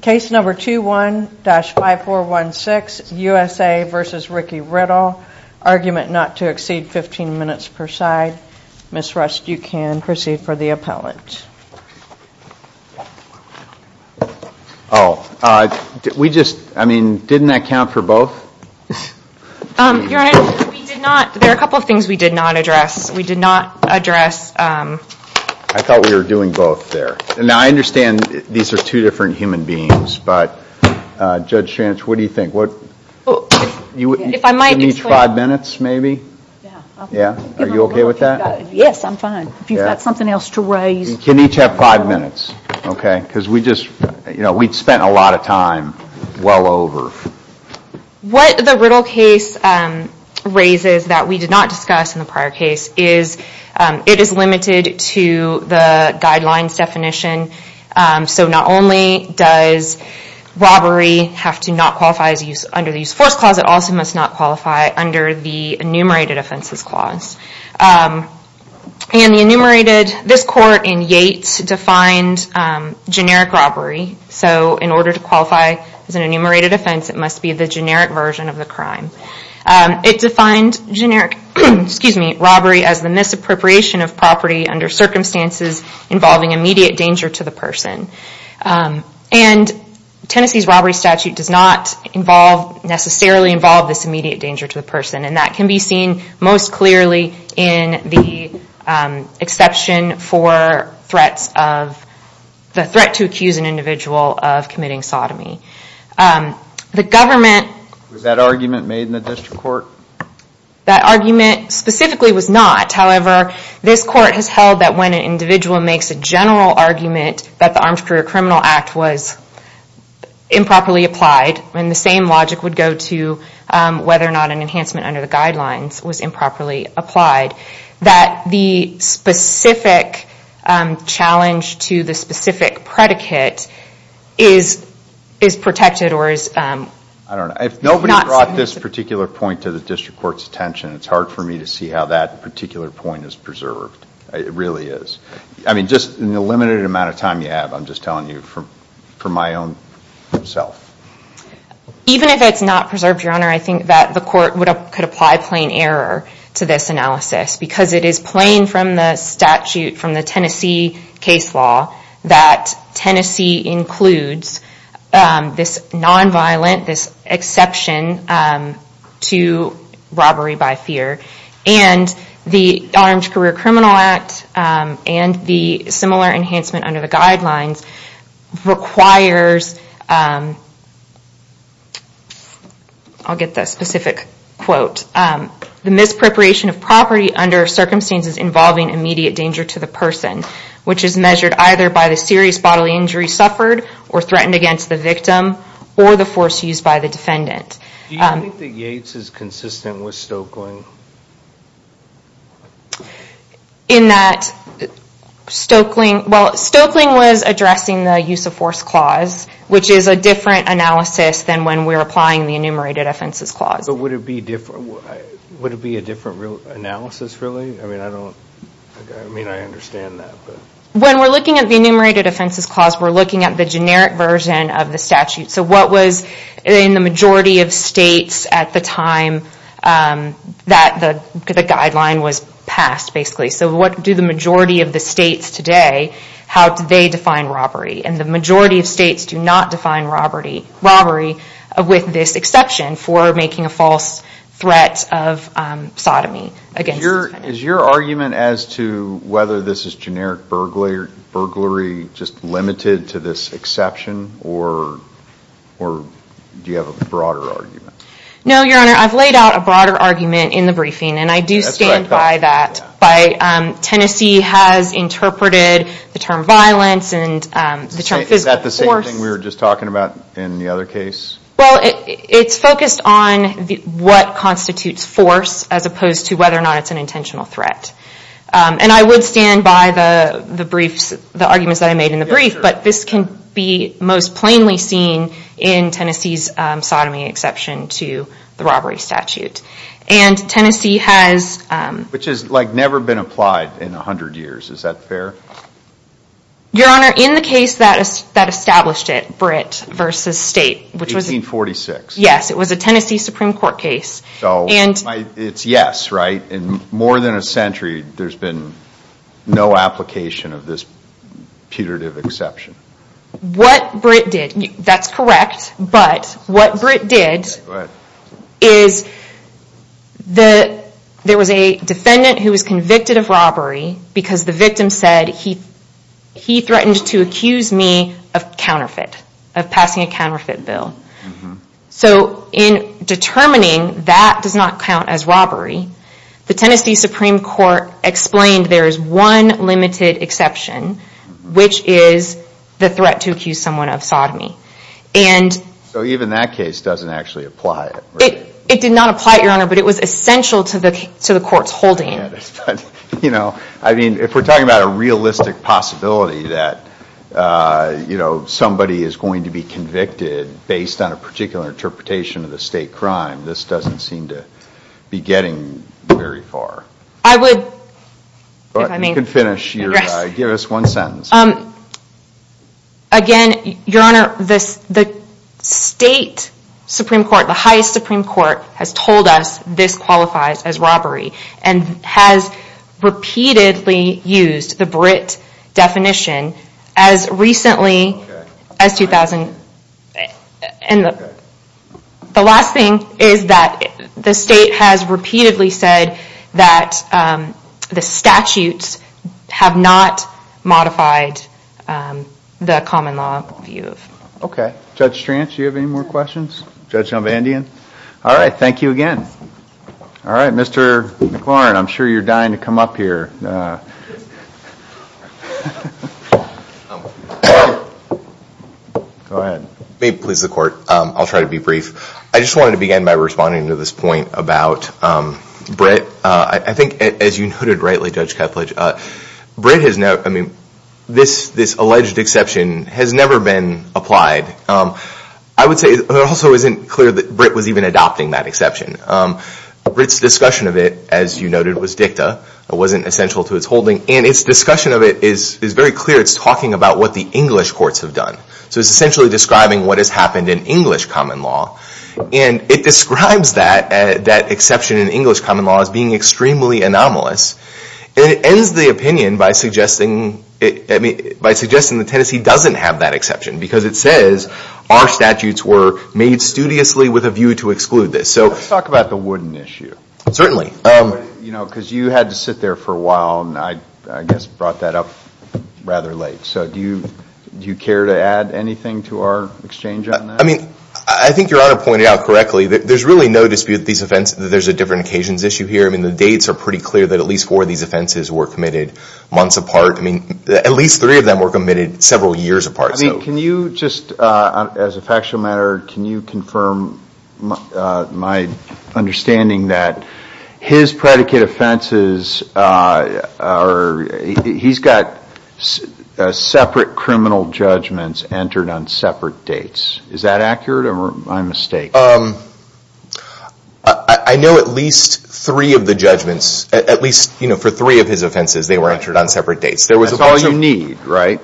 Case number 21-5416, USA v. Ricky Riddle, argument not to exceed 15 minutes per side. Ms. Rust, you can proceed for the appellant. Oh, we just, I mean, didn't that count for both? Your Honor, we did not, there are a couple of things we did not address. We did not address... I thought we were doing both there. Now, I understand these are two different human beings, but Judge Schantz, what do you think? If I might explain... Can each have five minutes, maybe? Yeah. Are you okay with that? Yes, I'm fine. If you've got something else to raise... You can each have five minutes, okay? Because we just, you know, we'd spent a lot of time well over. What the Riddle case raises that we did not discuss in the prior case is it is limited to the guidelines definition. So not only does robbery have to not qualify under the Use of Force Clause, it also must not qualify under the Enumerated Offenses Clause. And the enumerated, this court in Yates defined generic robbery. So in order to qualify as an enumerated offense, it must be the generic version of the crime. It defined generic, excuse me, robbery as the misappropriation of property under circumstances involving immediate danger to the person. And Tennessee's robbery statute does not involve, necessarily involve this immediate danger to the person. And that can be seen most clearly in the exception for threats of, the threat to accuse an individual of committing sodomy. The government... That argument specifically was not. However, this court has held that when an individual makes a general argument that the Armed Career Criminal Act was improperly applied, and the same logic would go to whether or not an enhancement under the guidelines was improperly applied, that the specific challenge to the specific predicate is protected or is... If nobody brought this particular point to the district court's attention, it's hard for me to see how that particular point is preserved. It really is. I mean, just in the limited amount of time you have, I'm just telling you from my own self. Even if it's not preserved, Your Honor, I think that the court could apply plain error to this analysis because it is plain from the statute, from the Tennessee case law, that Tennessee includes this nonviolent, this exception to robbery by fear. And the Armed Career Criminal Act and the similar enhancement under the guidelines requires... I'll get the specific quote. The misappropriation of property under circumstances involving immediate danger to the person, which is measured either by the serious bodily injury suffered or threatened against the victim or the force used by the defendant. Do you think that Yates is consistent with Stoeckling? In that Stoeckling... Well, Stoeckling was addressing the use of force clause, which is a different analysis than when we're applying the enumerated offenses clause. But would it be a different analysis, really? I mean, I understand that. When we're looking at the enumerated offenses clause, we're looking at the generic version of the statute. So what was in the majority of states at the time that the guideline was passed, basically. So what do the majority of the states today, how do they define robbery? And the majority of states do not define robbery with this exception for making a false threat of sodomy. Is your argument as to whether this is generic burglary just limited to this exception, or do you have a broader argument? No, Your Honor, I've laid out a broader argument in the briefing, and I do stand by that. Tennessee has interpreted the term violence and the term physical force. Is that the same thing we were just talking about in the other case? Well, it's focused on what constitutes force, as opposed to whether or not it's an intentional threat. And I would stand by the briefs, the arguments that I made in the brief, but this can be most plainly seen in Tennessee's sodomy exception to the robbery statute. And Tennessee has... Which has, like, never been applied in 100 years. Is that fair? Your Honor, in the case that established it, Britt v. State, which was... 1846. Yes, it was a Tennessee Supreme Court case. So, it's yes, right? In more than a century, there's been no application of this putative exception. What Britt did... That's correct. But what Britt did is there was a defendant who was convicted of robbery because the victim said he threatened to accuse me of counterfeit, of passing a counterfeit bill. So, in determining that does not count as robbery, the Tennessee Supreme Court explained there is one limited exception, which is the threat to accuse someone of sodomy. And... So, even that case doesn't actually apply, right? It did not apply, Your Honor, but it was essential to the court's holding. You know, I mean, if we're talking about a realistic possibility that, you know, somebody is going to be convicted based on a particular interpretation of the state crime, this doesn't seem to be getting very far. I would... You can finish your... Give us one sentence. Again, Your Honor, the state Supreme Court, the highest Supreme Court, has told us this qualifies as robbery and has repeatedly used the Britt definition as recently as 2000... And the last thing is that the state has repeatedly said that the statutes have not modified the common law view. Okay. Judge Strantz, do you have any more questions? Judge Elvandian? All right, thank you again. All right, Mr. McLaurin, I'm sure you're dying to come up here. Go ahead. May it please the court, I'll try to be brief. I just wanted to begin by responding to this point about Britt. I think, as you noted rightly, Judge Kepledge, Britt has no... I mean, this alleged exception has never been applied. I would say it also isn't clear that Britt was even adopting that exception. Britt's discussion of it, as you noted, was dicta. It wasn't essential to its holding. And its discussion of it is very clear. It's talking about what the English courts have done. So it's essentially describing what has happened in English common law. And it describes that exception in English common law as being extremely anomalous. And it ends the opinion by suggesting that Tennessee doesn't have that exception because it says our statutes were made studiously with a view to exclude this. Let's talk about the Wooden issue. Certainly. Because you had to sit there for a while and I guess brought that up rather late. So do you care to add anything to our exchange on that? I mean, I think Your Honor pointed out correctly that there's really no dispute that these offenses... that there's a different occasions issue here. I mean, the dates are pretty clear that at least four of these offenses were committed months apart. I mean, at least three of them were committed several years apart. I mean, can you just, as a factual matter, can you confirm my understanding that his predicate offenses are... he's got separate criminal judgments entered on separate dates. Is that accurate or am I mistaken? I know at least three of the judgments, at least for three of his offenses, they were entered on separate dates. That's all you need, right?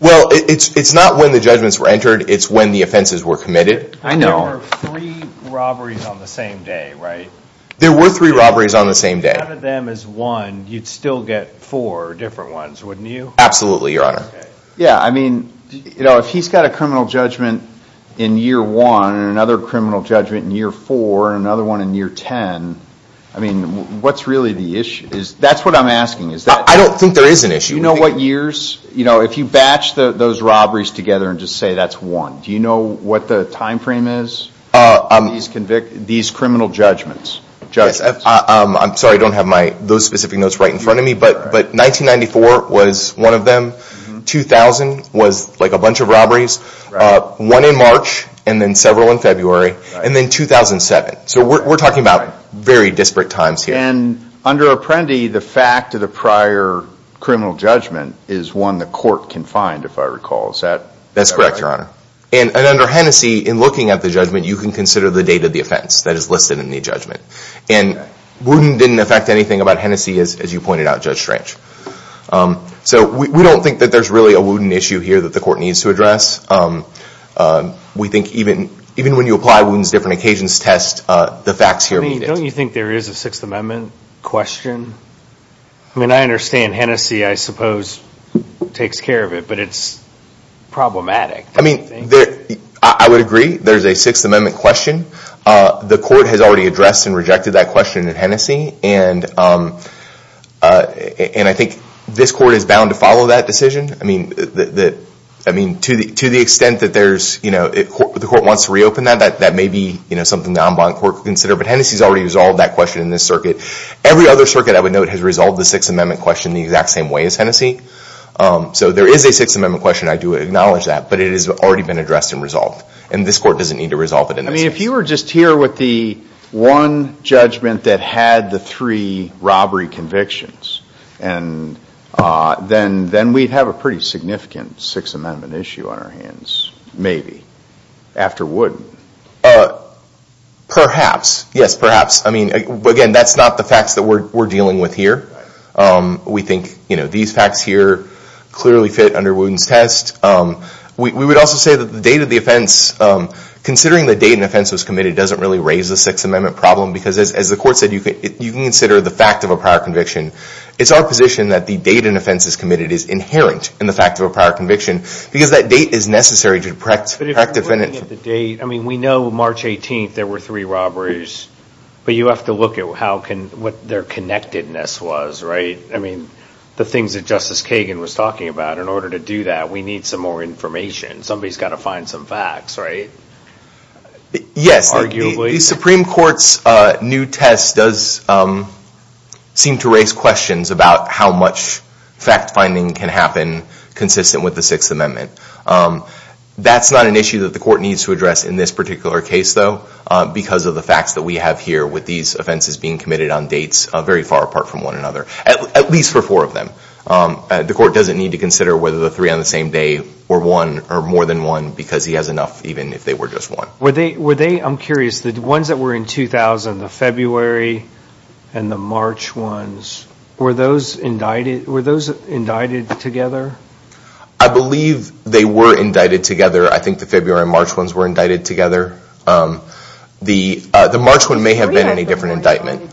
Well, it's not when the judgments were entered. It's when the offenses were committed. There were three robberies on the same day, right? There were three robberies on the same day. If you counted them as one, you'd still get four different ones, wouldn't you? Absolutely, Your Honor. Yeah, I mean, you know, if he's got a criminal judgment in year one and another criminal judgment in year four and another one in year ten, I mean, what's really the issue? That's what I'm asking. I don't think there is an issue. Do you know what years? You know, if you batch those robberies together and just say that's one, do you know what the time frame is? These criminal judgments. I'm sorry, I don't have those specific notes right in front of me, but 1994 was one of them. 2000 was like a bunch of robberies. One in March and then several in February. And then 2007. So we're talking about very disparate times here. And under Apprendi, the fact of the prior criminal judgment is one the court can find, if I recall. That's correct, Your Honor. And under Hennessey, in looking at the judgment, you can consider the date of the offense that is listed in the judgment. And Wooten didn't affect anything about Hennessey as you pointed out, Judge Strange. So we don't think that there's really a Wooten issue here that the court needs to address. We think even when you apply Wooten's different occasions test, the facts here meet it. Don't you think there is a Sixth Amendment question? I mean, I understand Hennessey, I suppose, takes care of it. But it's problematic. I mean, I would agree. There's a Sixth Amendment question. The court has already addressed and rejected that question in Hennessey. And I think this court is bound to follow that decision. I mean, to the extent that the court wants to reopen that, that may be something the en banc court could consider. But Hennessey's already resolved that question in this circuit. Every other circuit, I would note, has resolved the Sixth Amendment question in the exact same way as Hennessey. So there is a Sixth Amendment question. I do acknowledge that. But it has already been addressed and resolved. And this court doesn't need to resolve it in this case. I mean, if you were just here with the one judgment that had the three robbery convictions, then we'd have a pretty significant Sixth Amendment issue on our hands, maybe, after Wooten. Perhaps. Yes, perhaps. I mean, again, that's not the facts that we're dealing with here. We think these facts here clearly fit under Wooten's test. We would also say that the date of the offense, considering the date an offense was committed, doesn't really raise the Sixth Amendment problem. Because as the court said, you can consider the fact of a prior conviction. It's our position that the date an offense is committed is inherent in the fact of a prior conviction. Because that date is necessary to correct the defendant. But if you're looking at the date, I mean, we know March 18th there were three robberies. But you have to look at what their connectedness was. I mean, the things that Justice Kagan was talking about. In order to do that, we need some more information. Somebody's got to find some facts, right? Yes. Arguably. The Supreme Court's new test does seem to raise questions about how much fact-finding can happen consistent with the Sixth Amendment. That's not an issue that the court needs to address in this particular case, though, because of the facts that we have here with these offenses being committed on dates very far apart from one another. At least for four of them. The court doesn't need to consider whether the three on the same day were one or more than one because he has enough even if they were just one. Were they, I'm curious, the ones that were in 2000, the February and the March ones, were those indicted together? I believe they were indicted together. I think the February and March ones were indicted together. The March one may have been in a different indictment.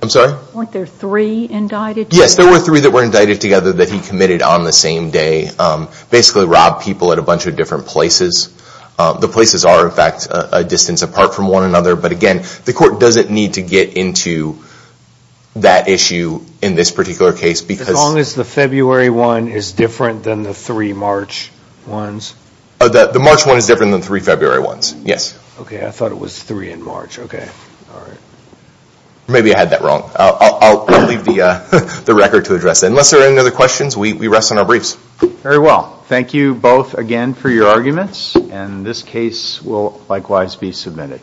I'm sorry? Weren't there three indicted together? Yes, there were three that were indicted together that he committed on the same day. Basically robbed people at a bunch of different places. The places are, in fact, a distance apart from one another. But again, the court doesn't need to get into that issue in this particular case because... As long as the February one is different than the three March ones? The March one is different than the three February ones, yes. Okay, I thought it was three in March. Okay, all right. Maybe I had that wrong. I'll leave the record to address it. Unless there are any other questions, we rest on our briefs. Very well. Thank you both again for your arguments. And this case will likewise be submitted.